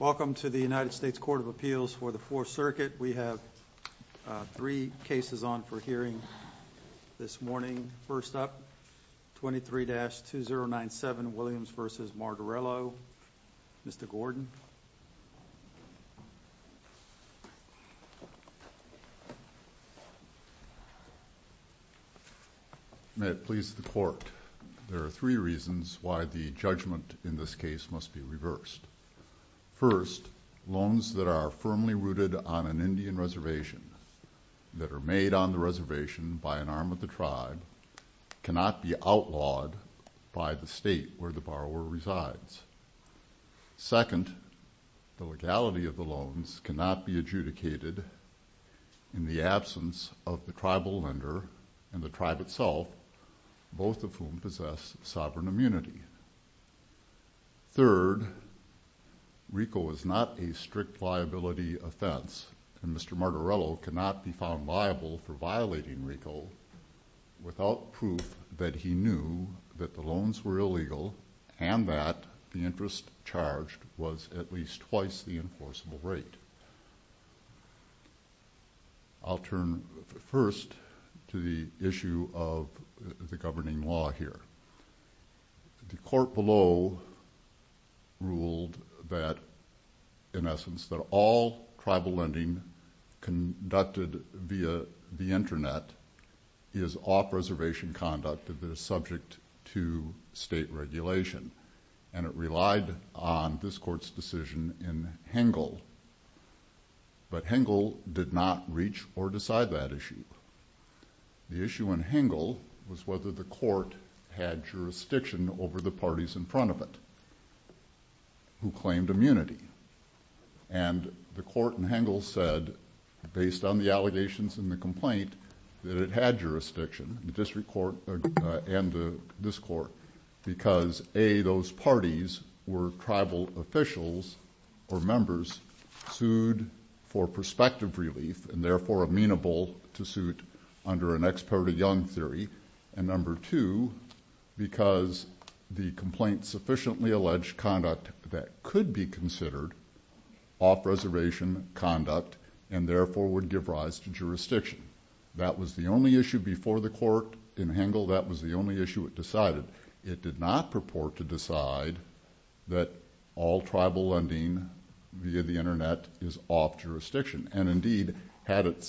Welcome to the United States Court of Appeals for the Fourth Circuit. We have three cases on for hearing this morning. First up, 23-2097 Williams v. Martorello. Mr. Gordon. May it please the Court, there are three reasons why the judgment in this case must be reversed. First, loans that are firmly rooted on an Indian reservation that are made on the reservation by an arm of the tribe cannot be outlawed by the state where the borrower resides. Second, the legality of the loans cannot be adjudicated in the absence of the tribal lender and the tribe itself, both of whom possess sovereign immunity. Third, RICO is not a strict liability offense and Mr. Martorello cannot be found liable for violating RICO without proof that he knew that the loans were illegal and that the interest charged was at least twice the enforceable rate. I'll turn first to the issue of the governing law here. The court below ruled that, in essence, that all tribal lending conducted via the Internet is off-reservation conduct that is subject to state regulation and it relied on this court's decision in Hengel, but Hengel did not reach or decide that issue. The issue in Hengel was whether the court had jurisdiction over the parties in front of it who claimed immunity and the court in Hengel said, based on the allegations in the complaint, that it had jurisdiction, the tribal officials or members sued for prospective relief and therefore amenable to suit under an experted young theory, and number two, because the complaint sufficiently alleged conduct that could be considered off-reservation conduct and therefore would give rise to jurisdiction. That was the only issue before the court in Hengel. That was the only issue it decided. It did not allow the court to decide that all tribal lending via the Internet is off jurisdiction and indeed, had it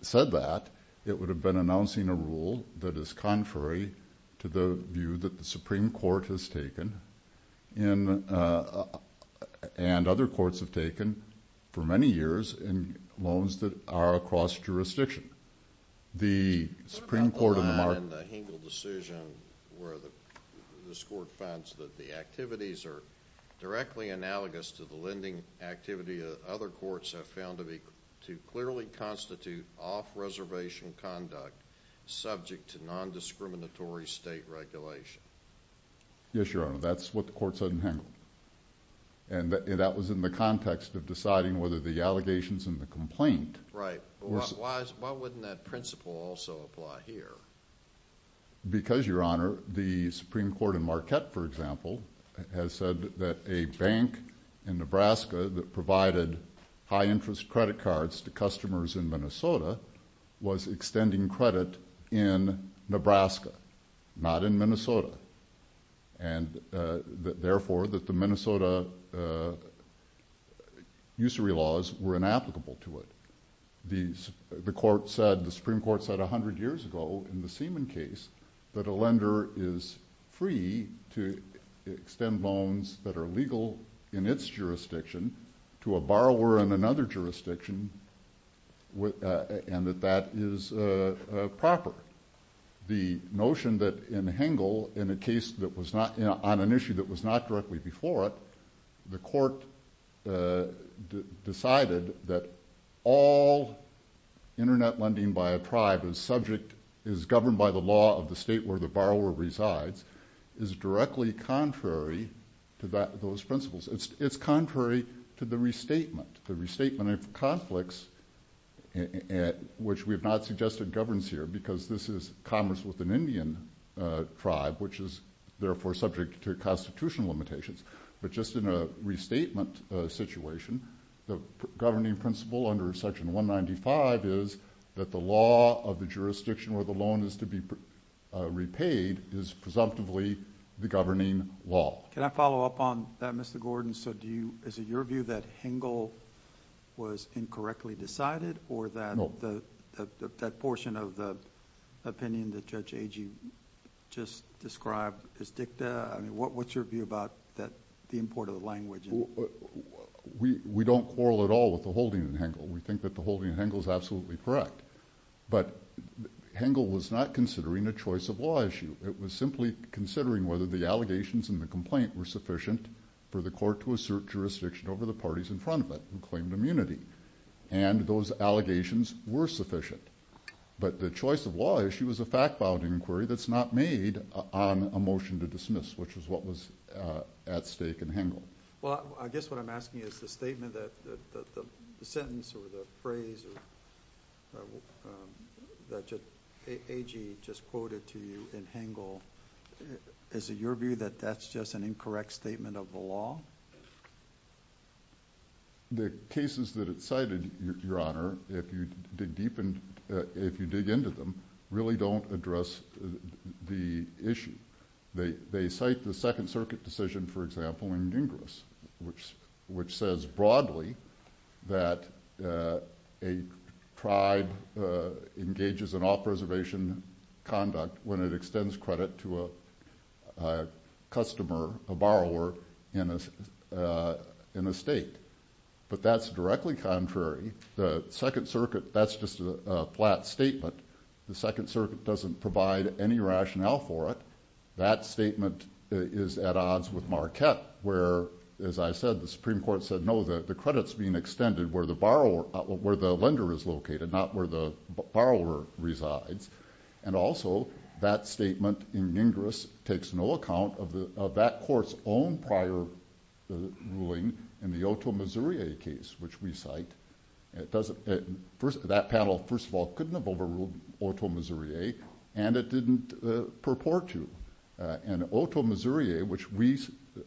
said that, it would have been announcing a rule that is contrary to the view that the Supreme Court has taken and other courts have taken for many years in loans that are across jurisdiction. The Supreme Court... What about the line in the Hengel decision where this court finds that the activities are directly analogous to the lending activity that other courts have found to clearly constitute off-reservation conduct subject to non-discriminatory state regulation? Yes, Your Honor. That's what the court said in Hengel. That was in the context of deciding whether the allegations in the complaint... Right. Why wouldn't that principle also apply here? Because, Your Honor, the Supreme Court in Marquette, for example, has said that a bank in Nebraska that provided high-interest credit cards to customers in Minnesota was extending credit in Nebraska, not in Minnesota, and therefore that the Minnesota usury laws were inapplicable to it. The Supreme Court said a hundred years ago in the Seaman case that a lender is free to extend loans that are legal in its jurisdiction to a borrower in another jurisdiction and that that is proper. The notion that in Hengel, in a case on an issue that was not directly before it, the court decided that all internet lending by a tribe is governed by the law of the state where the borrower resides is directly contrary to those principles. It's contrary to the restatement, the restatement of conflicts, which we have not suggested governs here because this is commerce with an Indian tribe, which is therefore subject to constitutional limitations. But just in a restatement situation, the governing principle under Section 195 is that the law of the jurisdiction where the loan is to be repaid is presumptively the governing law. Can I follow up on that, Mr. Gordon? Is it your view that Hengel was incorrectly decided or that portion of the opinion that Judge Agee just described is dicta? What's your view about the importance of language? We don't quarrel at all with the holding in Hengel. We think that the holding in Hengel is absolutely correct. But Hengel was not considering a choice of law issue. It was simply considering whether the allegations in the complaint were sufficient for the court to assert jurisdiction over the parties in front of it who claimed immunity. And those allegations were sufficient. But the choice of law issue is a fact-bounding inquiry that's not made on a motion to dismiss, which is what was at stake in Hengel. Well, I guess what I'm asking is the statement that the sentence or the phrase that Judge Agee just quoted to you in Hengel, is it your view that that's just an incorrect statement of the law? The cases that it cited, Your Honor, if you dig into them, really don't address the issue. They cite the Second Circuit decision, for example, in Gingras, which says broadly that a tribe engages in off-reservation conduct when it extends credit to a customer, a borrower, in a state. But that's directly contrary. The Second Circuit, that's just a flat statement. The Second Circuit doesn't provide any rationale for it. That statement is at odds with Marquette, where, as I said, the Supreme Court said no, the credit's being extended where the lender is located, not where the borrower resides. And also, that statement in Gingras takes no account of that court's own prior ruling in the Otoe, Missouri case, which we cite. That panel, first of all, couldn't have overruled Otoe, Missouri, and it didn't purport to. And Otoe, Missouri, which we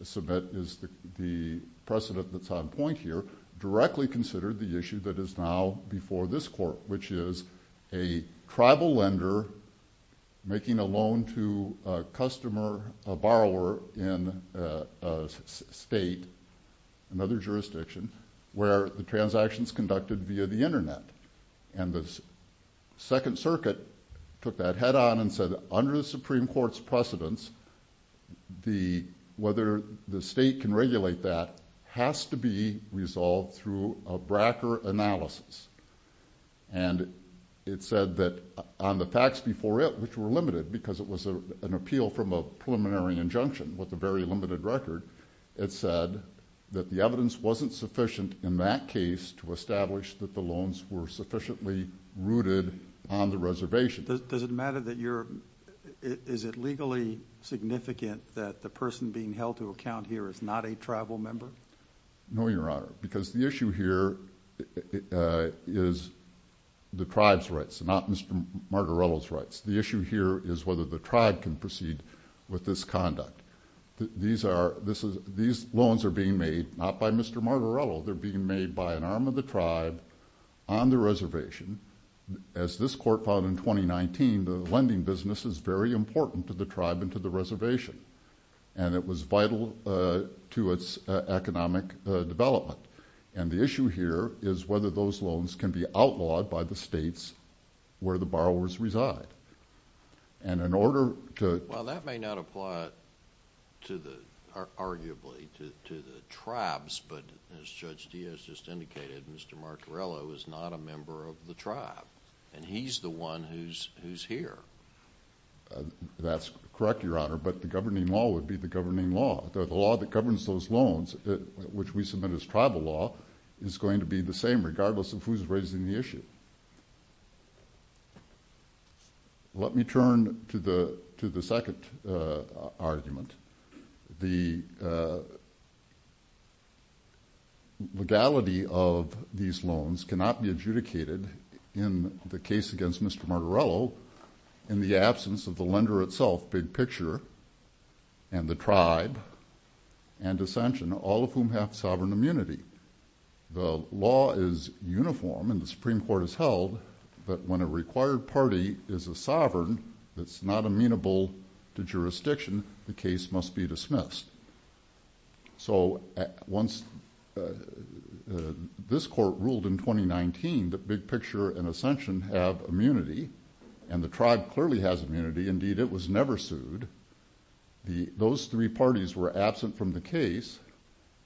submit is the precedent that's on point here, directly considered the issue that is now before this court, which is a tribal lender making a loan to a customer, a borrower in a state, another jurisdiction, where the transaction's conducted via the internet. And the Second Circuit took that head-on and said, under the Supreme Court's precedents, whether the state can regulate that has to be resolved through a Bracker analysis. And it said that on the facts before it, which were limited because it was an appeal from a preliminary injunction with a very limited record, it said that the evidence wasn't sufficient in that case to establish that the loans were sufficiently rooted on the reservation. Does it matter that you're... is it legally significant that the person being held to account here is not a tribal member? No, Your Honor, because the issue here is the tribe's rights, not Mr. Margarello's rights. The issue here is whether the tribe can proceed with this conduct. These loans are being made not by Mr. Margarello, they're being made by an arm of the tribe on the reservation. As this court found in 2019, the lending business is very important to the tribe and to the reservation, and it was vital to its economic development. And the issue here is whether those loans can be outlawed by the states where the borrowers reside. And in order to... Well, that may not apply to the... arguably to the tribes, but as Judge Diaz just indicated, Mr. Margarello is not a member of the tribe, and he's the one who's here. That's correct, Your Honor, but the governing law would be the governing law. The law that governs those loans, which we submit as tribal law, is going to be the same regardless of who's raising the issue. Let me turn to the second argument. The legality of these loans cannot be adjudicated in the case against Mr. Margarello in the absence of the lender itself, big picture, and the tribe, and dissension, all of whom have sovereign immunity. The law is uniform and the Supreme Court has held that when a required party is a sovereign that's not amenable to jurisdiction, the case must be dismissed. So once... this court ruled in 2019 that big picture and dissension have immunity, and the tribe clearly has immunity. Indeed, it was pursued. Those three parties were absent from the case,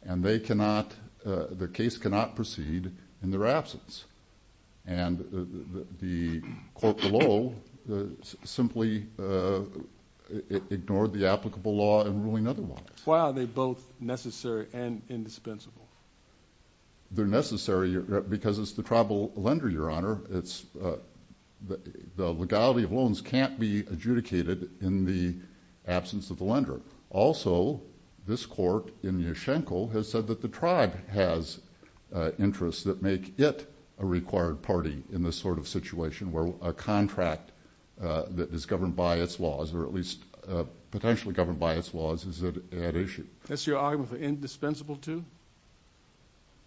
and the case cannot proceed in their absence. The court below simply ignored the applicable law in ruling otherwise. Why are they both necessary and indispensable? They're necessary because it's the tribal lender, Your Honor. The legality of loans can't be adjudicated in the absence of the lender. Also, this court in Yeshenko has said that the tribe has interests that make it a required party in this sort of situation where a contract that is governed by its laws, or at least potentially governed by its laws, is at issue. That's your argument for indispensable too?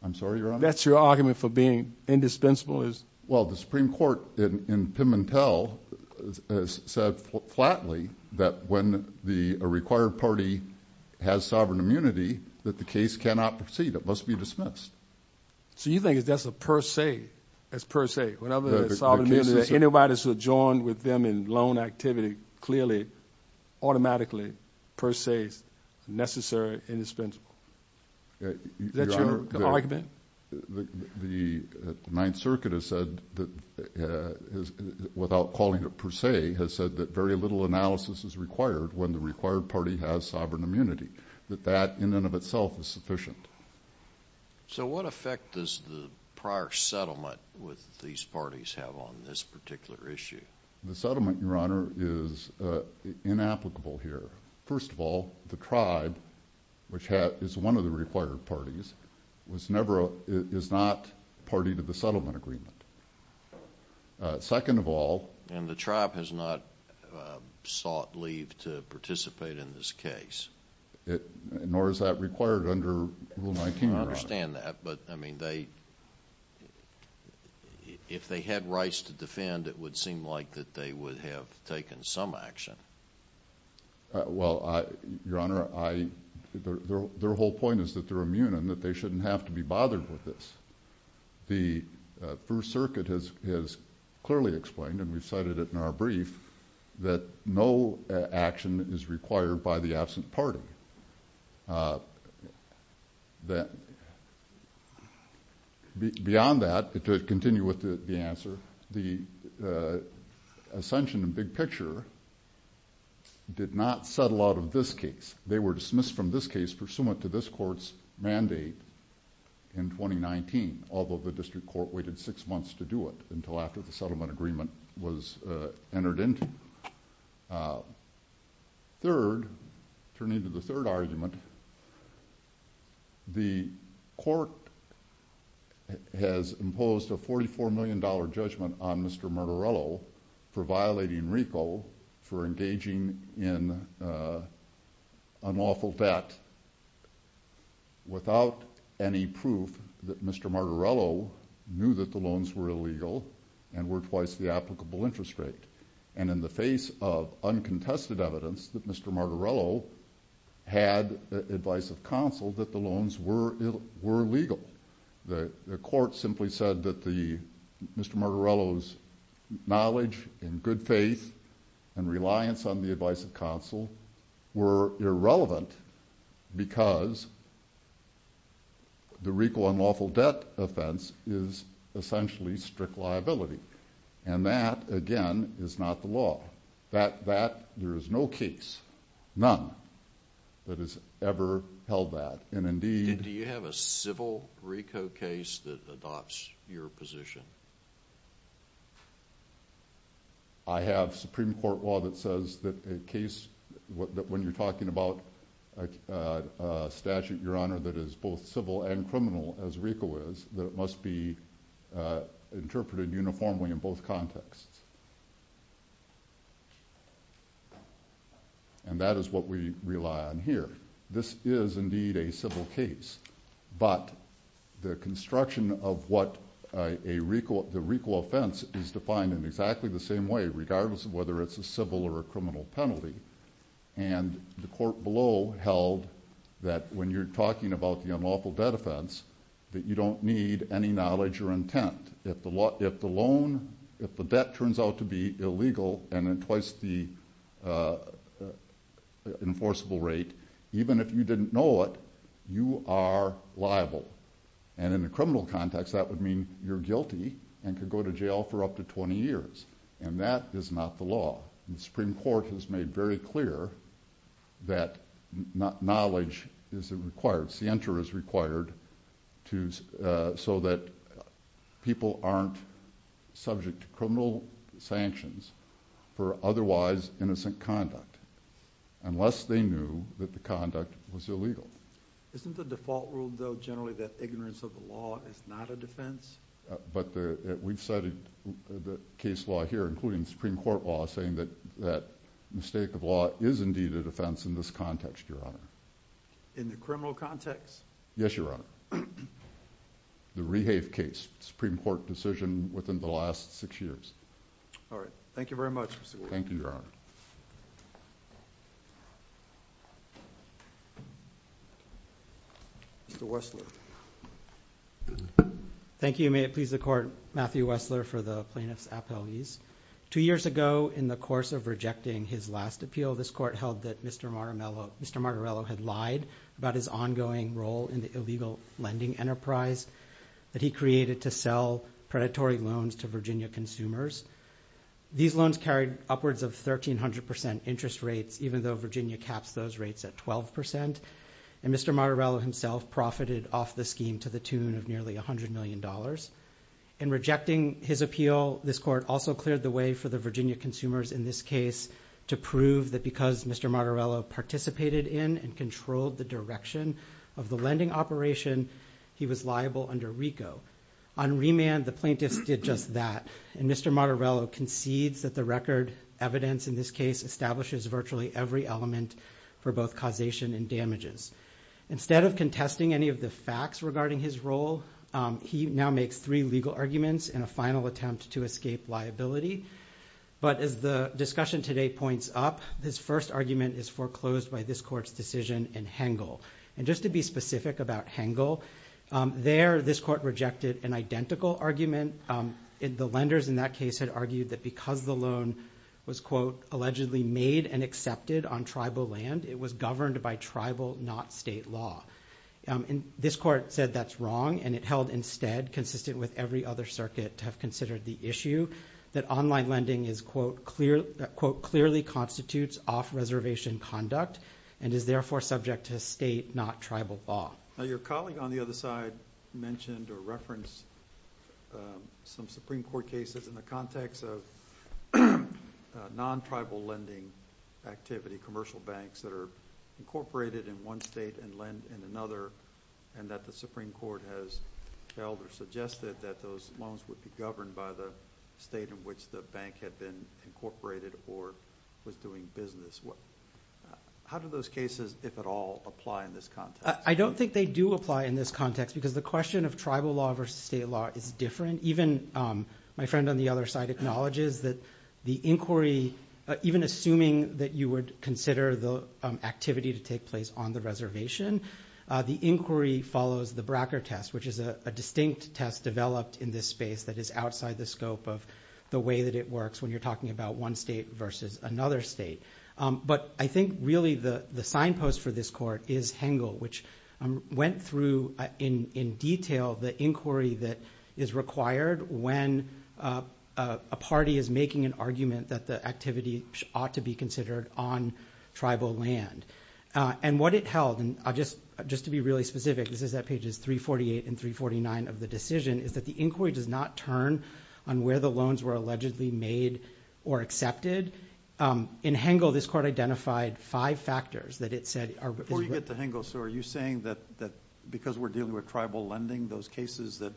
I'm sorry, Your Honor? That's your argument for being indispensable is... Well, the Supreme Court in Pimentel has said flatly that when a required party has sovereign immunity, that the case cannot proceed. It must be So you think that's a per se? That's per se? That anybody who's adjoined with them in loan activity clearly, automatically, per se, is necessary and indispensable. Is that your argument? The Ninth Circuit has said, without calling it per se, has said that very little analysis is required when the required party has sovereign immunity, that that in and of itself is sufficient. So what effect does the prior settlement with these parties have on this particular issue? The settlement, Your Honor, is inapplicable here. First of all, the tribe, which is one of the required parties, is not party to the settlement agreement. Second of all... And the tribe has not sought leave to participate in this case? Nor is that required under Rule 19, Your Honor. I understand that, but I mean, if they had rights to defend, it would seem like that they would have taken some action. Well, Your Honor, their whole point is that they're immune and that they shouldn't have to be bothered with this. The First Circuit has clearly explained, and we've cited it in our brief, that no action is required by the absent party. Beyond that, to continue with the answer, the ascension in big picture did not settle out of this case. They were dismissed from this case pursuant to this court's mandate in 2019, although the district court waited six months to do it until after the settlement agreement was entered into. Third, turning to the third argument, the court has imposed a $44 million judgment on Mr. Martorello for violating RICO, for engaging in unlawful debt without any proof that Mr. Martorello knew that the loans were illegal and were twice the applicable interest rate. And in the face of uncontested evidence that Mr. Martorello had advice of counsel that the loans were illegal. The court simply said that Mr. Martorello's knowledge and good faith and reliance on the advice of counsel were irrelevant because the RICO unlawful debt offense is essentially strict liability. And that, again, is not the law. There is no case, none, that has ever held that. And indeed... Do you have a civil RICO case that adopts your position? I have Supreme Court law that says that a case, that when you're talking about a statute, Your Honor, that is both civil and criminal as RICO is, that it must be interpreted uniformly in both contexts. And that is what we rely on here. This is, indeed, a civil case. But the construction of what a RICO, the RICO offense is defined in exactly the same way, regardless of whether it's a civil or a criminal penalty. And the court below held that when you're talking about the unlawful debt offense, that you don't need any knowledge or intent. If the loan, if the debt turns out to be illegal and at twice the enforceable rate, even if you didn't know it, you are liable. And in a criminal context, that would mean you're guilty and could go to jail for up to 20 years. And that is not the law. The Supreme Court has made very clear that knowledge is required, scienter is required, so that people aren't subject to criminal sanctions for otherwise innocent conduct, unless they knew that the conduct was illegal. Isn't the default rule, though, generally that ignorance of the law is not a defense? But we've cited the case law here, including Supreme Court law, saying that mistake of law is, indeed, a defense in this context, Your Honor. In the criminal context? Yes, Your Honor. The Rehave case, Supreme Court decision within the last six years. All right. Thank you very much, Mr. Gordon. Thank you, Your Honor. Mr. Wessler. Thank you. May it please the Court. Matthew Wessler for the plaintiff's appellees. Two years ago, in the course of rejecting his last appeal, this Court held that Mr. Martorello had lied about his ongoing role in the illegal lending enterprise that he created to sell predatory loans to Virginia consumers. These loans carried upwards of 1,300% interest rates, even though Virginia caps those rates at 12%, and Mr. Martorello himself profited off the scheme to the tune of nearly $100 million. In rejecting his appeal, this Court also cleared the way for the Virginia consumers in this case to prove that because Mr. Martorello participated in and controlled the direction of the lending operation, he was liable under RICO. On remand, the plaintiffs did just that, and Mr. Martorello concedes that the record evidence in this case establishes virtually every element for both causation and damages. Instead of contesting any of the facts regarding his role, he now makes three legal arguments in a final attempt to escape liability. But as the discussion today points up, his first argument is foreclosed by this Court's decision in Hengel. And just to be specific about Hengel, there this Court rejected an identical argument. The lenders in that case had argued that because the loan was, quote, allegedly made and accepted on tribal land, it was governed by tribal, not state law. This Court said that's wrong, and it held instead, consistent with every other circuit to have considered the issue, that online lending is, quote, clearly constitutes off-reservation conduct and is therefore subject to state, not tribal, law. Your colleague on the other side mentioned or referenced some Supreme Court cases in the context of non-tribal lending activity, commercial banks that are incorporated in one state and lend in another, and that the Supreme Court has held or suggested that those loans would be governed by the state in which the bank had been incorporated or was doing business. How do those cases, if at all, apply in this context? I don't think they do apply in this context because the question of tribal law versus state law is different. Even my friend on the other side acknowledges that the inquiry, even assuming that you would consider the activity to take place on the reservation, the inquiry follows the Bracker test, which is a distinct test developed in this space that is outside the scope of the way that it works when you're talking about one state versus another state. But I think really the signpost for this court is Hengel, which went through in detail the inquiry that is required when a party is making an argument that the activity ought to be considered on tribal land. And what it held, and just to be really specific, this is at pages 348 and 349 of the decision, is that the inquiry does not turn on where the loans were allegedly made or accepted. In Hengel, this court identified 5 factors that it said... Before you get to Hengel, sir, are you saying that because we're dealing with tribal lending, those cases that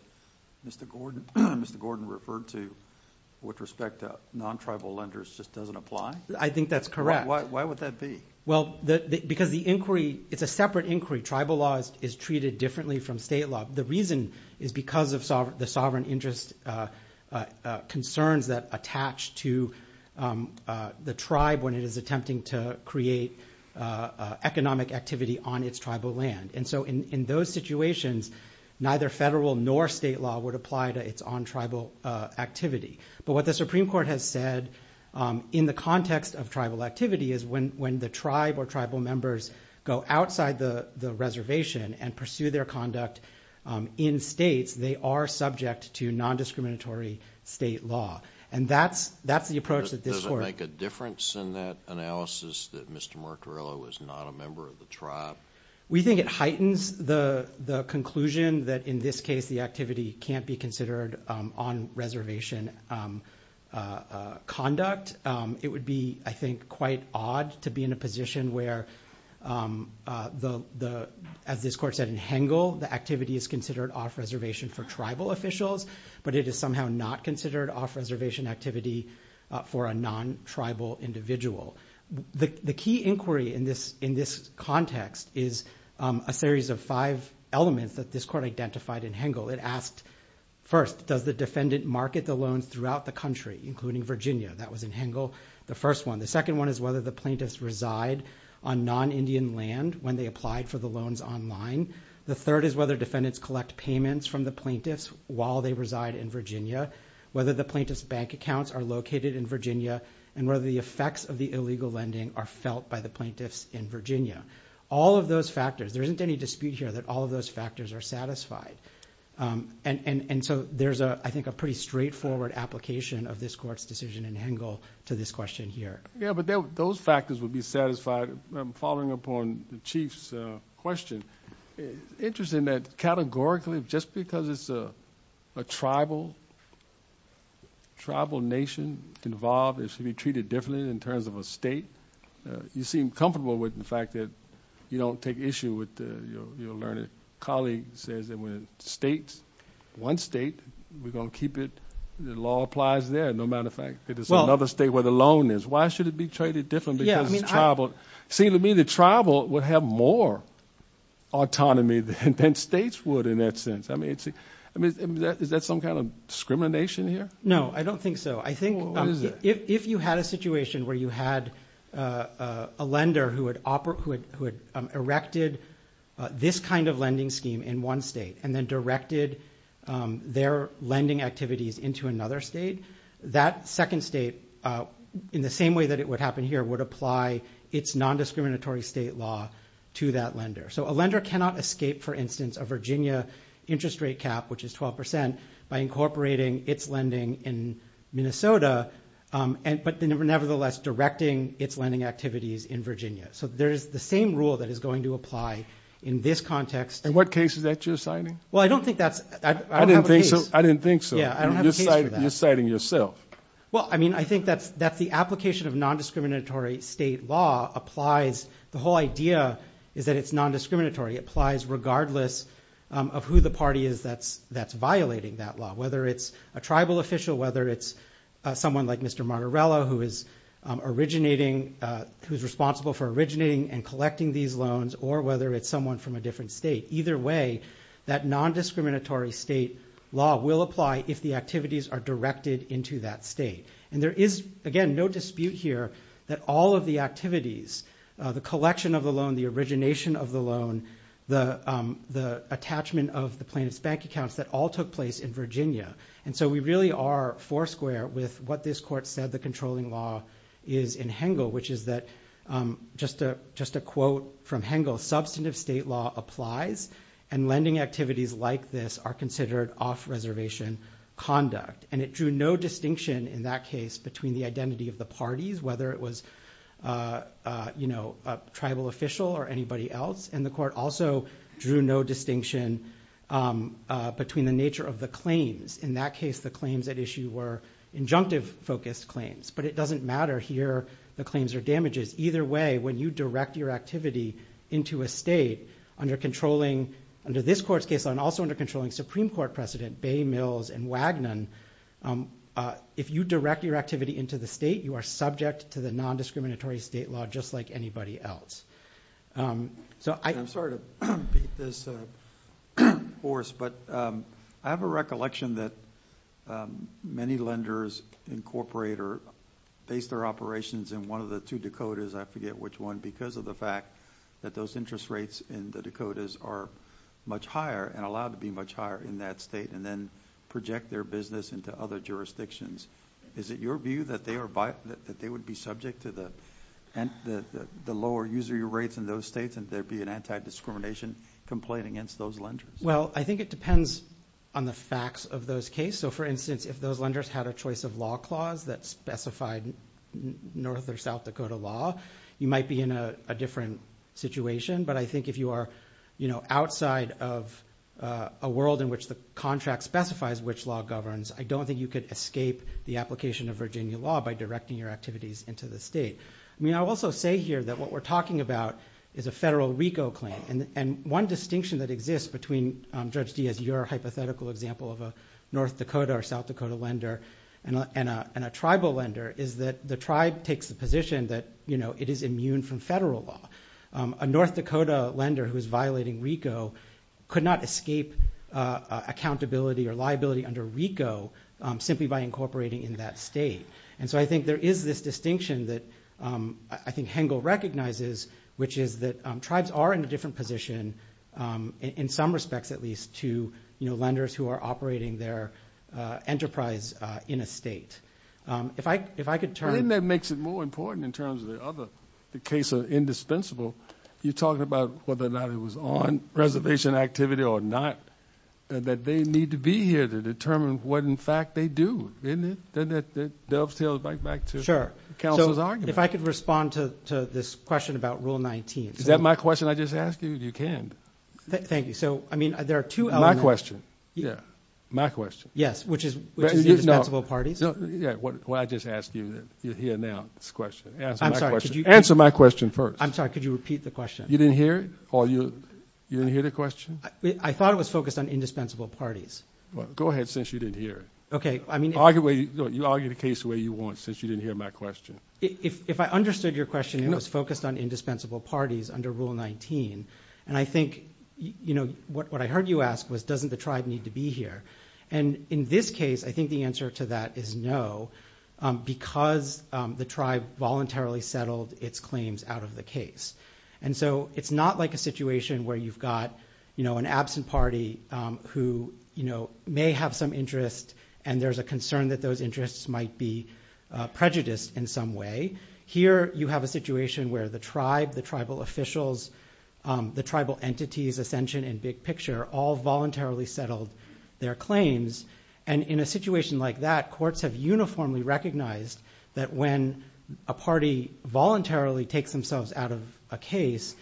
Mr. Gordon referred to with respect to non-tribal lenders just doesn't apply? I think that's correct. Why would that be? Well, because the inquiry, it's a separate inquiry. Tribal law is treated differently from state law. The reason is because of the sovereign interest concerns that attach to the tribe when it is attempting to create economic activity on its tribal land. And so in those situations, neither federal nor state law would apply to its on-tribal activity. But what the Supreme Court has said in the context of tribal activity is when the tribe or tribal members go outside the reservation and pursue their conduct in states, they are subject to non-discriminatory state law. And that's the approach that this court... Does it make a difference in that analysis that Mr. Mercurillo is not a member of the tribe? We think it heightens the conclusion that in this case the activity can't be considered on-reservation conduct. It would be, I think, quite odd to be in a position where, as this court said in Hengel, the activity is considered off-reservation for tribal officials, but it is somehow not considered off-reservation activity for a non-tribal individual. The key inquiry in this context is a series of five elements that this court identified in Hengel. It asked, first, does the defendant market the loans throughout the country, including Virginia? That was in Hengel, the first one. The second one is whether the plaintiffs reside on non-Indian land when they applied for the loans online. The third is whether defendants collect payments from the plaintiffs while they reside in Virginia, whether the plaintiffs' bank accounts are located in Virginia, and whether the effects of the illegal lending are felt by the plaintiffs in Virginia. There isn't any dispute here that all of those factors are satisfied. There's a pretty straightforward application of this court's decision in Hengel to this question here. Those factors would be satisfied following upon the chief's question. It's interesting that categorically, just because it's a tribal nation involved, it should be treated differently in terms of a state. You seem comfortable with the fact that you don't take issue with your learning. A colleague says that when it's one state, we're going to keep it. The law applies there, no matter the fact Why should it be treated differently? It seems to me that tribal would have more autonomy than states would in that sense. Is that some kind of discrimination here? No, I don't think so. If you had a situation where you had a lender who had erected this kind of lending scheme in one state and then directed their lending activities into another state, that second state, in the same way that it would happen here, would apply its nondiscriminatory state law to that lender. A lender cannot escape, for instance, a Virginia interest rate cap, which is 12%, by incorporating its lending in Minnesota but nevertheless directing its lending activities in Virginia. There's the same rule that is going to apply in this context. In what case is that you're citing? I don't have a case for that. You're citing yourself. I think that's the application of nondiscriminatory state law. The whole idea is that it's nondiscriminatory. It applies regardless of who the party is that's violating that law, whether it's a tribal official, whether it's someone like Mr. Martorello who is responsible for originating and collecting these loans, or whether it's someone from a different state. Either way, that nondiscriminatory state law will apply if the activities are directed into that state. There is, again, no dispute here that all of the activities, the collection of the loan, the origination of the loan, the attachment of the plaintiff's bank accounts that all took place in Virginia. We really are foursquare with what this court said about the nature of the controlling law is in Hengel, which is that, just a quote from Hengel, substantive state law applies, and lending activities like this are considered off-reservation conduct. It drew no distinction in that case between the identity of the parties, whether it was a tribal official or anybody else. The court also drew no distinction between the nature of the claims. In that case, the claims at issue were injunctive-focused claims, but it doesn't matter here the claims are damages. Either way, when you direct your activity into a state under this court's case law and also under controlling Supreme Court precedent, Bay, Mills, and Wagnon, if you direct your activity into the state, you are subject to the nondiscriminatory state law just like anybody else. I'm sorry to beat this horse, but I have a recollection that many lenders incorporate or base their operations in one of the two Dakotas, I forget which one, because of the fact that those interest rates in the Dakotas are much higher and allowed to be much higher in that state and then project their business into other jurisdictions. Is it your view that they would be subject to the lower user rates in those states and there be an anti-discrimination complaint against those lenders? Well, I think it depends on the facts of those cases. So, for instance, if those lenders had a choice of law clause that specified North or South Dakota law, you might be in a different situation. But I think if you are outside of a world in which the contract specifies which law governs, I don't think you could escape the application of Virginia law by directing your activities into the state. I also say here that what we're talking about is a federal RICO claim, and one distinction that exists between Judge Dee as your hypothetical example of a North Dakota or South Dakota lender and a tribal lender is that the tribe takes the position that it is immune from federal law. A North Dakota lender who is violating RICO could not escape accountability or liability under RICO simply by incorporating in that state. And so I think there is this distinction that I think Hengel recognizes, which is that tribes are in a different position in some respects at least to lenders who are operating their enterprise in a state. If I could turn... But isn't that makes it more important in terms of the other case of indispensable? You're talking about whether or not it was on reservation activity or not, that they need to be here to determine what in fact they do, isn't it? Doesn't that dovetail back to counsel's argument? If I could respond to this question about Rule 19... Is that my question I just asked you? You can. Thank you. So, I mean, there are two elements... My question, yeah. My question. Yes, which is indispensable parties. Well, I just asked you here now this question. Answer my question first. I'm sorry, could you repeat the question? You didn't hear it? You didn't hear the question? I thought it was focused on indispensable parties. Go ahead, since you didn't hear it. You argue the case the way you want, since you didn't hear my question. If I understood your question, it was focused on indispensable parties under Rule 19, and I think... What I heard you ask was, doesn't the tribe need to be here? And in this case, I think the answer to that is no because the tribe voluntarily settled its claims out of the case. And so it's not like a situation where you've got an absent party who may have some interest, and there's a concern that those interests might be prejudiced in some way. Here, you have a situation where the tribe, the tribal officials, the tribal entities, Ascension and Big Picture, all voluntarily settled their claims. And in a situation like that, courts have uniformly recognized that when a party voluntarily takes themselves out of a case,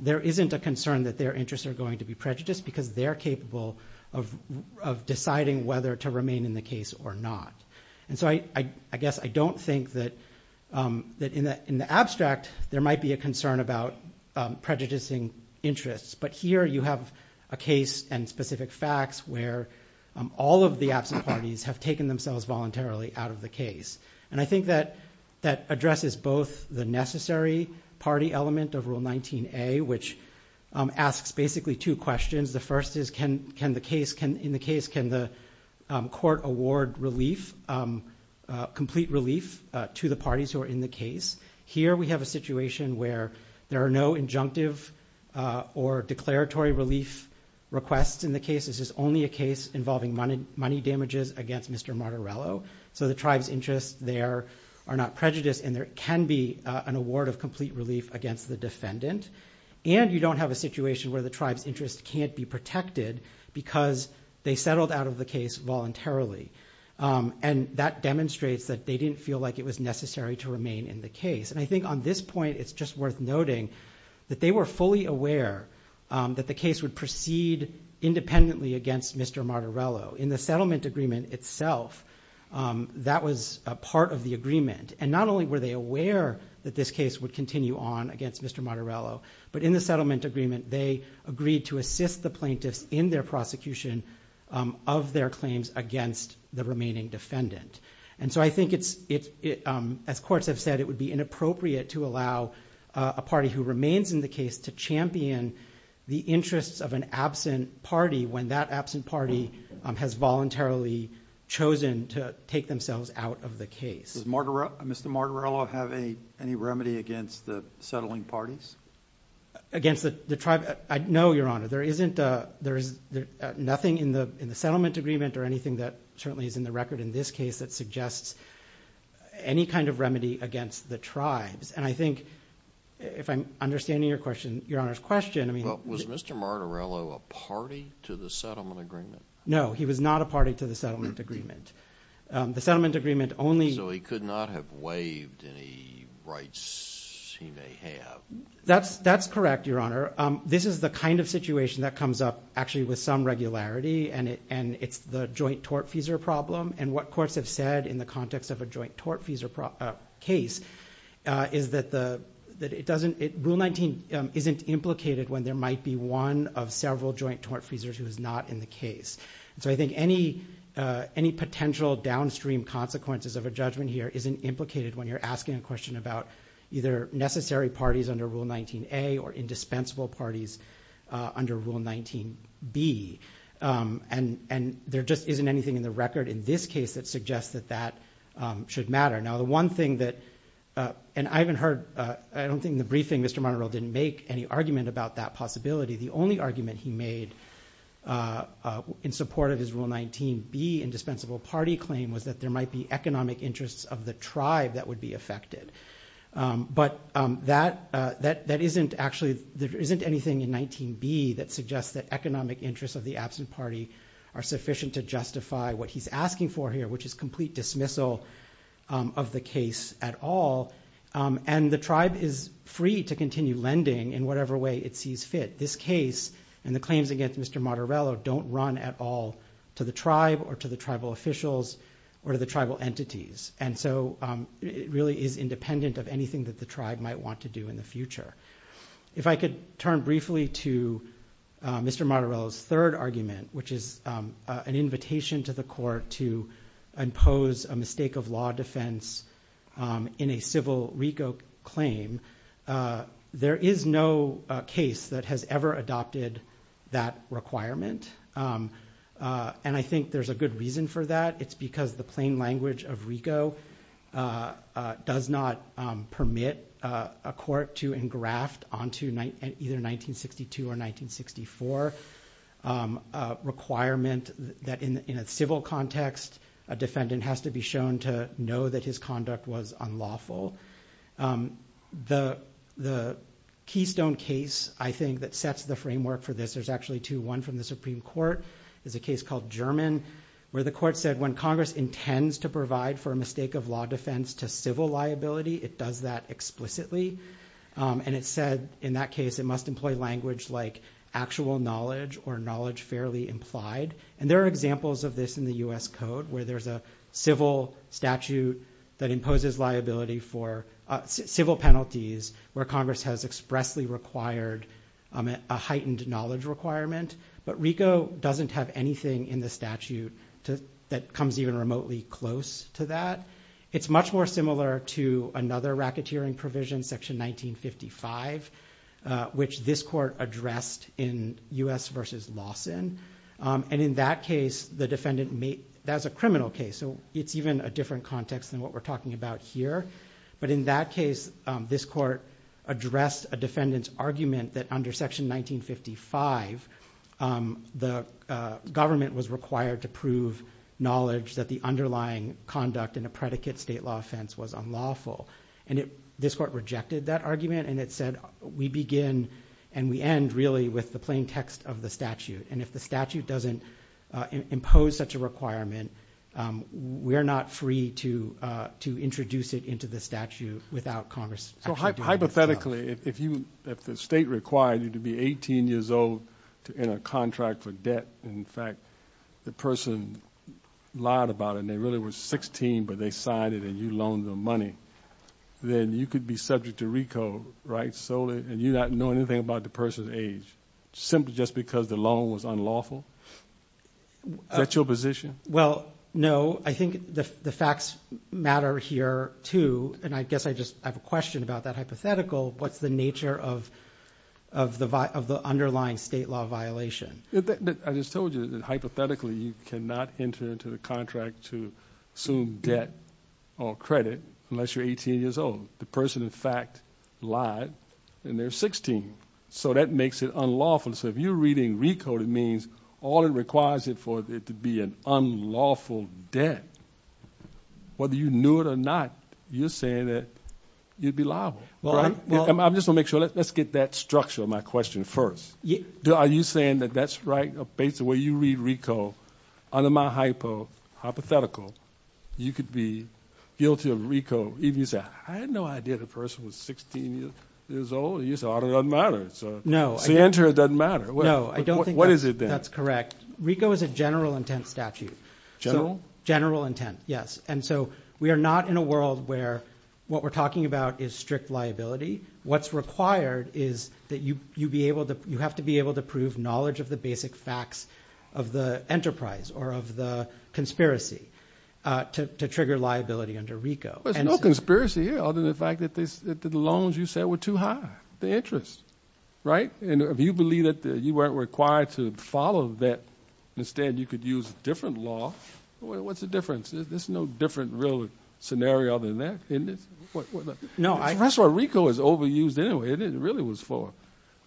there isn't a concern that their interests are going to be prejudiced because they're capable of deciding whether to remain in the case or not. And so I guess I don't think that in the abstract, there might be a concern about prejudicing interests, but here you have a case and specific facts where all of the absent parties have taken themselves voluntarily out of the case. And I think that addresses both the necessary party element of Rule 19A, which asks basically two questions. The first is, can the court award complete relief to the parties who are in the case? Here, we have a situation where there are no injunctive or declaratory relief requests in the case. This is only a case involving money damages against Mr. Martorello. So the tribe's interests there are not prejudiced and there can be an award of complete relief against the defendant. And you don't have a situation where the tribe's interests can't be protected because they settled out of the case voluntarily. And that demonstrates that they didn't feel like it was necessary to remain in the case. And I think on this point, it's just worth noting that they were fully aware that the case would proceed independently against Mr. Martorello. In the settlement agreement itself, that was a part of the agreement. And not only were they aware that this case would continue on against Mr. Martorello, but in the settlement agreement, they agreed to assist the plaintiffs in their prosecution of their claims against the remaining defendant. And so I think, as courts have said, it would be inappropriate to allow a party who remains in the case to champion the interests of an absent party when that absent party has voluntarily chosen to take themselves out of the case. Does Mr. Martorello have any remedy against the settling parties? Against the tribe? No, Your Honor. There is nothing in the settlement agreement or anything that certainly is in the record in this case that suggests any kind of remedy against the tribes. And I think, if I'm understanding Your Honor's question... Well, was Mr. Martorello a party to the settlement agreement? No, he was not a party to the settlement agreement. So he could not have waived any rights he may have? That's correct, Your Honor. This is the kind of situation that comes up actually with some regularity, and it's the joint tort-feasor problem. And what courts have said in the context of a joint tort-feasor case is that Rule 19 isn't implicated when there might be one of several joint tort-feasors who is not in the case. So I think any potential downstream consequences of a judgment here isn't implicated when you're asking a question about either necessary parties under Rule 19A or indispensable parties under Rule 19B. And there just should matter. Now the one thing that... And I haven't heard... I don't think in the briefing Mr. Martorello didn't make any argument about that possibility. The only argument he made in support of his Rule 19B indispensable party claim was that there might be economic interests of the tribe that would be affected. But that isn't actually... there isn't anything in 19B that suggests that economic interests of the absent party are sufficient to justify what he's asking for here, which is complete dismissal of the case at all. And the tribe is free to continue lending in whatever way it sees fit. This case and the claims against Mr. Martorello don't run at all to the tribe or to the tribal officials or to the tribal entities. And so it really is independent of anything that the tribe might want to do in the future. If I could turn briefly to Mr. Martorello's third argument, which is an invitation to the court to impose a mistake of law defense in a civil RICO claim, there is no case that has ever adopted that requirement. And I think there's a good reason for that. It's because the plain language of RICO does not permit a court to engraft onto either 1962 or 1964 a requirement that in a civil context, a defendant has to be shown to know that his conduct was unlawful. The keystone case, I think, that sets the framework for this, there's actually two. One from the Supreme Court is a case called German where the court said when Congress intends to provide for a mistake of law defense to civil liability, it does that explicitly. And it said in that case it must employ language like actual knowledge or knowledge fairly implied. And there are examples of this in the U.S. Code where there's a civil statute that imposes liability for civil penalties where Congress has expressly required a heightened knowledge requirement. But RICO doesn't have anything in the statute that comes even remotely close to that. It's much more similar to another racketeering provision, section 1955, which this court addressed in U.S. versus Lawson. And in that case, the defendant made, that was a criminal case, so it's even a different context than what we're talking about here. But in that case this court addressed a defendant's argument that under section 1955 the government was required to prove knowledge that the underlying conduct in a predicate state law offense was unlawful. And this court rejected that argument and it said we begin and we end really with the plain text of the statute. And if the statute doesn't impose such a requirement we're not free to introduce it into the statute without Congress actually doing it. So hypothetically, if the state required you to be 18 years old to enter a contract for debt and in fact the person lied about it and they really were 16 but they signed it and you loaned them money, then you could be subject to RICO, right? And you're not knowing anything about the person's age. Simply just because the loan was unlawful? Is that your position? Well, no. I think the facts matter here too. And I guess I just have a question about that hypothetical. What's the nature of the underlying state law violation? I just told you that hypothetically you cannot enter into the contract to assume debt or credit unless you're 18 years old. The person in fact lied and they're 16. So that makes it unlawful. So if you're reading RICO, it means all it requires for it to be an unlawful debt. Whether you knew it or not you're saying that you'd be liable. I just want to make sure. Let's get that structure of my question first. Are you saying that that's right based on the way you read RICO? Under my hypo hypothetical, you could be guilty of RICO even if you say, I had no idea the person was 16 years old. It doesn't matter. To enter it doesn't matter. What is it then? That's correct. RICO is a general intent statute. General? General intent, yes. And so we are not in a world where what we're talking about is strict liability. What's required is that you have to be able to prove knowledge of the basic facts of the enterprise or of the conspiracy to trigger liability under RICO. There's no conspiracy here other than the fact that the loans you said were too high. The interest. If you believe that you weren't required to follow that, instead you could use a different law. What's the difference? There's no different real scenario other than that? That's why RICO is overused anyway. It really was for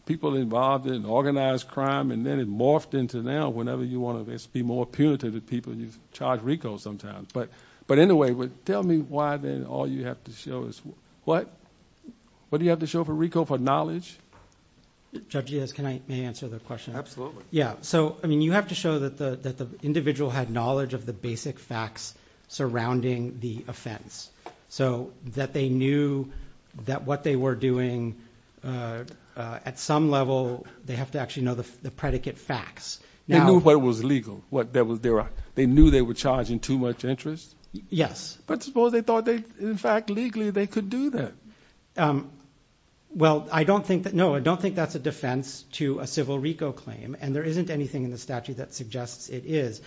people involved in organized crime and then it morphed into now whenever you want to be more punitive you charge RICO sometimes. But anyway, tell me why then all you have to show is what? What do you have to show for RICO for knowledge? Judge, yes, can I answer the question? Absolutely. Yeah, so I mean you have to show that the individual had knowledge of the basic facts surrounding the offense. So that they knew that what they were doing at some level, they have to actually know the predicate facts. They knew what was legal. They knew they were charging too much interest? Yes. But suppose they thought that in fact legally they could do that? Well, I don't think that that's a defense to a civil RICO claim and there isn't anything in the statute that suggests it is.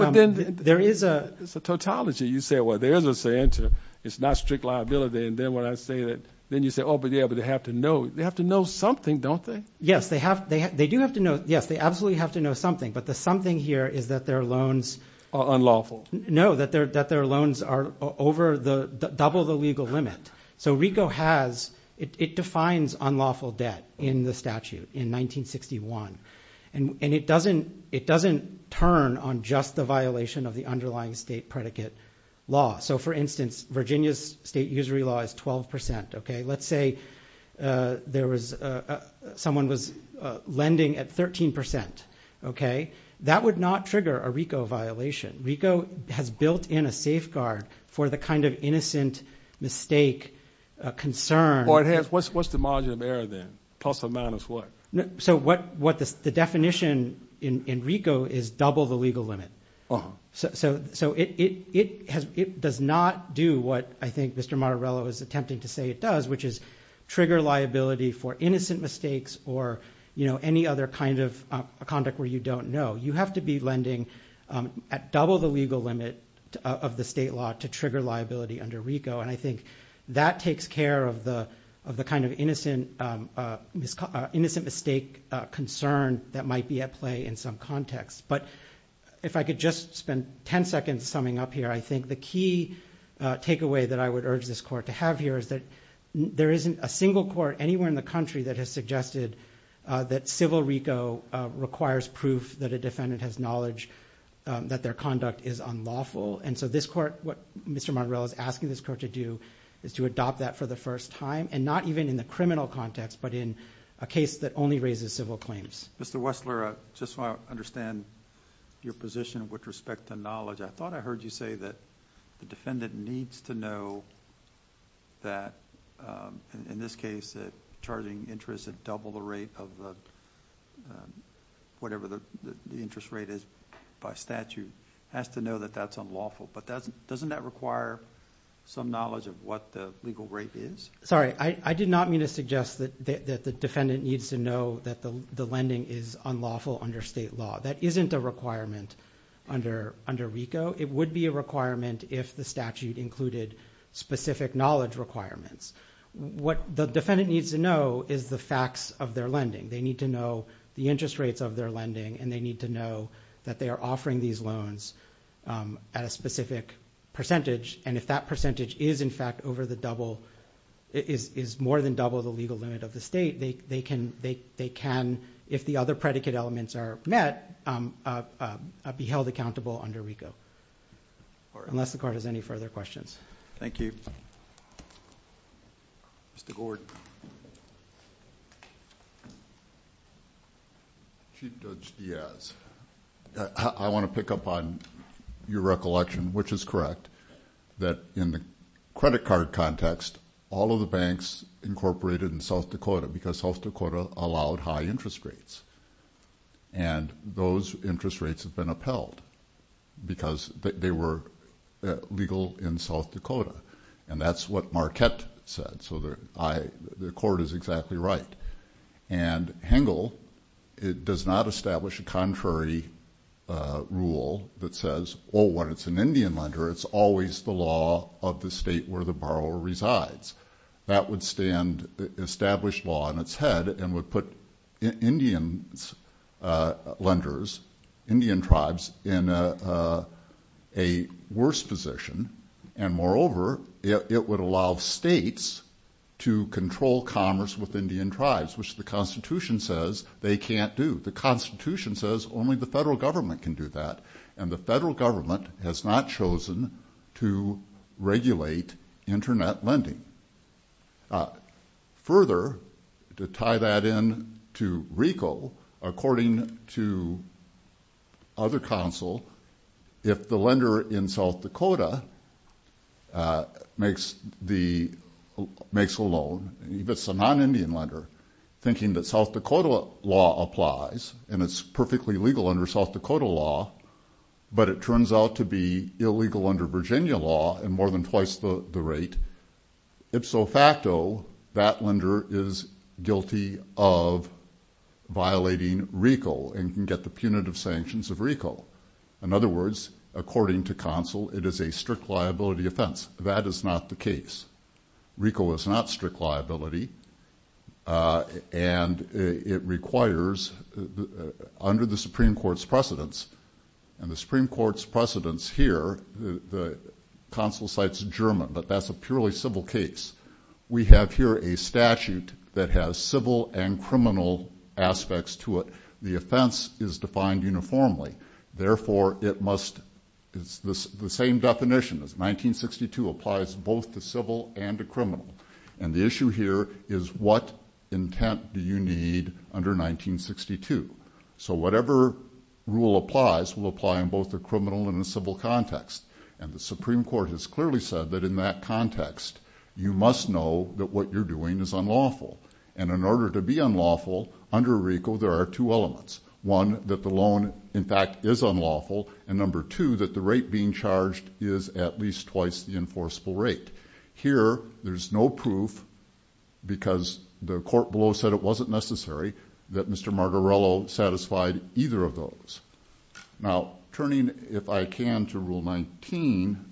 It's a tautology. You say, well, there's a saying to it's not strict liability and then when I say that then you say, oh, but they have to know. They have to know something, don't they? Yes, they do have to know. Yes, they absolutely have to know something. But the something here is that their loans are unlawful. No, that their loans are double the legal limit. So RICO has it defines unlawful debt in the statute in 1961 and it doesn't turn on just the violation of the underlying state predicate law. So for instance Virginia's state usury law is 12%. Let's say there was someone was lending at 13%. That would not trigger a RICO violation. RICO has built in a safeguard for the kind of What's the margin of error then? Plus or minus what? So what the definition in RICO is double the legal limit. So it does not do what I think Mr. Martorello is attempting to say it does which is trigger liability for innocent mistakes or any other kind of conduct where you don't know. You have to be lending at double the legal limit of the state law to trigger liability under RICO and I think that takes care of the kind of innocent mistake concern that might be at play in some context. But if I could just spend 10 seconds summing up here I think the key takeaway that I would urge this court to have here is that there isn't a single court anywhere in the country that has suggested that civil RICO requires proof that a defendant has knowledge that their conduct is unlawful and so this court, what Mr. Martorello is asking this court to do is to adopt that for the first time and not even in the criminal context but in a case that only raises civil claims. Mr. Wessler I just want understand your position with respect to knowledge I thought I heard you say that the defendant needs to know that in this case that charging interest at double the rate of whatever the interest rate is by statute has to know that that's unlawful but doesn't that require some knowledge of what the legal rate is? I did not mean to suggest that the defendant needs to know that the lending is unlawful under state law. That isn't a requirement under RICO. It would be a requirement if the statute included specific knowledge requirements. The defendant needs to know is the facts of their lending. They need to know the interest rates of their lending and they need to know that they are offering these loans at a specific percentage and if that percentage is in fact over the double, is more than double the legal limit of the state they can, if the other predicate elements are met be held accountable under RICO. Unless the court has any further questions. Thank you. Mr. Gordon. Chief Judge Diaz. I want to pick up on your recollection which is correct that in the credit card context all of the banks incorporated in South Dakota because South Dakota allowed high interest rates and those interest rates have been upheld because they were legal in South Dakota and that's what Marquette said so the court is exactly right and Hengel does not establish a contrary rule that says when it's an Indian lender it's always the law of the state where the borrower resides. That would stand established law on its head and would put Indian lenders Indian tribes in a worse position and moreover it would allow states to control commerce with Indian tribes which the constitution says they can't do. The constitution says only the federal government can do that and the federal government has not chosen to regulate internet lending. Further, to tie that in to RICO according to other counsel if the lender in South Dakota makes a loan if it's a non-Indian lender thinking that South Dakota law applies and it's perfectly legal under South Dakota law but it turns out to be illegal under Virginia law and more than twice the rate, ipso facto that lender is guilty of violating RICO and can get the punitive sanctions of RICO. In other words according to counsel it is a strict liability offense that is not the case. RICO is not strict liability and it requires under the Supreme Court's precedence and the Supreme Court's precedence here, the counsel cites is German but that's a purely civil case. We have here a statute that has civil and criminal aspects to it. The offense is defined uniformly therefore it must it's the same definition as 1962 applies both to civil and to criminal and the issue here is what intent do you need under 1962? So whatever rule applies will apply in both the criminal and And the Supreme Court has clearly said that in that context you must know that what you're doing is unlawful and in order to be unlawful under RICO there are two elements. One that the loan in fact is unlawful and number two that the rate being charged is at least twice the enforceable rate. Here there's no proof because the court below said it wasn't necessary that Mr. Margarello satisfied either of those. Now turning if I can to Rule 19,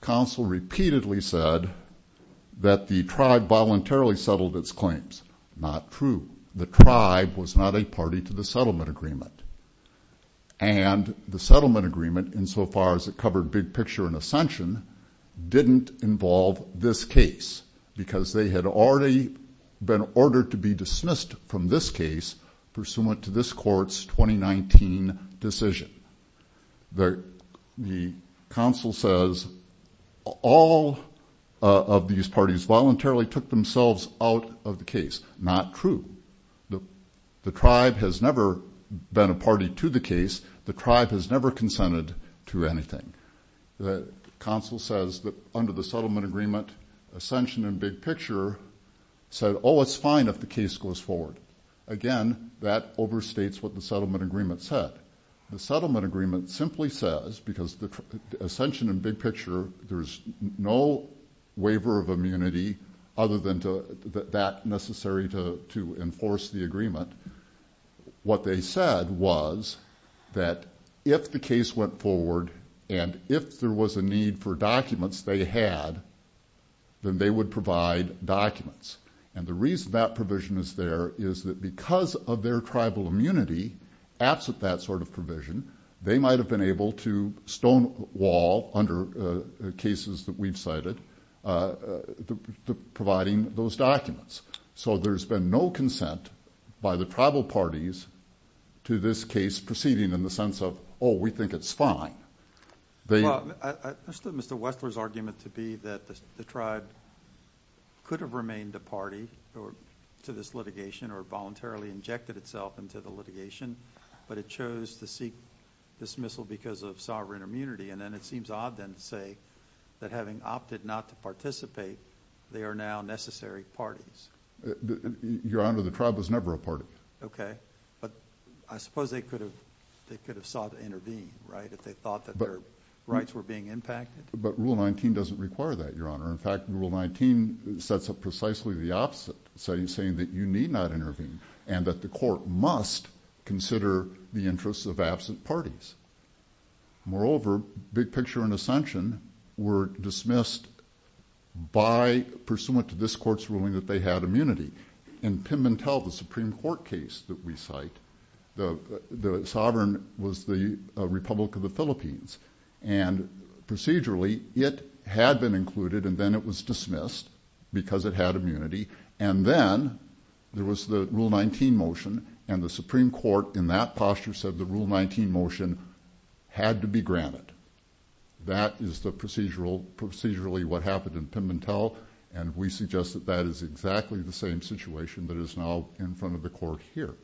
counsel repeatedly said that the tribe voluntarily settled its claims. Not true. The tribe was not a party to the settlement agreement and the settlement agreement in so far as it covered Big Picture and Ascension didn't involve this case because they had already been ordered to be dismissed from this case pursuant to this court's 2019 decision. The counsel says all of these parties voluntarily took themselves out of the case. Not true. The tribe has never been a party to the case the tribe has never consented to anything. The counsel says that under the settlement agreement Ascension and Big Picture said oh it's fine if the case goes forward. Again that overstates what the settlement agreement said. The settlement agreement simply says because Ascension and Big Picture there's no waiver of immunity other than that necessary to enforce the agreement. What they said was that if the case went forward and if there was a need for documents they had then they would provide documents and the reason that provision is there is that because of their tribal immunity absent that sort of provision they might have been able to stonewall under cases that we've cited providing those documents. So there's been no consent by the tribal parties to this case proceeding in the sense of oh we think it's fine. I understood Mr. Wessler's argument to be that the tribe could have remained a party to this litigation or voluntarily injected itself into the litigation but it chose to seek dismissal because of sovereign immunity and then it seems odd then to say that having opted not to participate they are now necessary parties. Your Honor the tribe was never a party. Okay but I suppose they could have sought to intervene right if they thought that their rights were being impacted. But Rule 19 doesn't require that Your Honor. In fact Rule 19 sets up precisely the opposite saying that you need not intervene and that the court must consider the interests of absent parties. Moreover Big Picture and Ascension were dismissed by pursuant to this court's ruling that they had immunity. In Pimbentel the Supreme Court case that we cite the sovereign was the Republic of the Philippines and procedurally it had been included and then it was dismissed because it had immunity and then there was the Rule 19 motion and the Supreme Court in that posture said the Rule 19 motion had to be granted. That is the procedural procedurally what happened in Pimbentel and we suggest that is exactly the same situation that is now in front of the court here.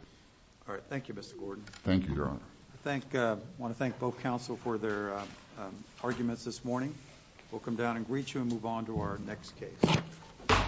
Alright thank you Mr. Gordon. Thank you Your Honor. I want to thank both counsel for their arguments this morning. We'll come down and greet you and move on to our next case. Thank you.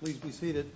Please be seated.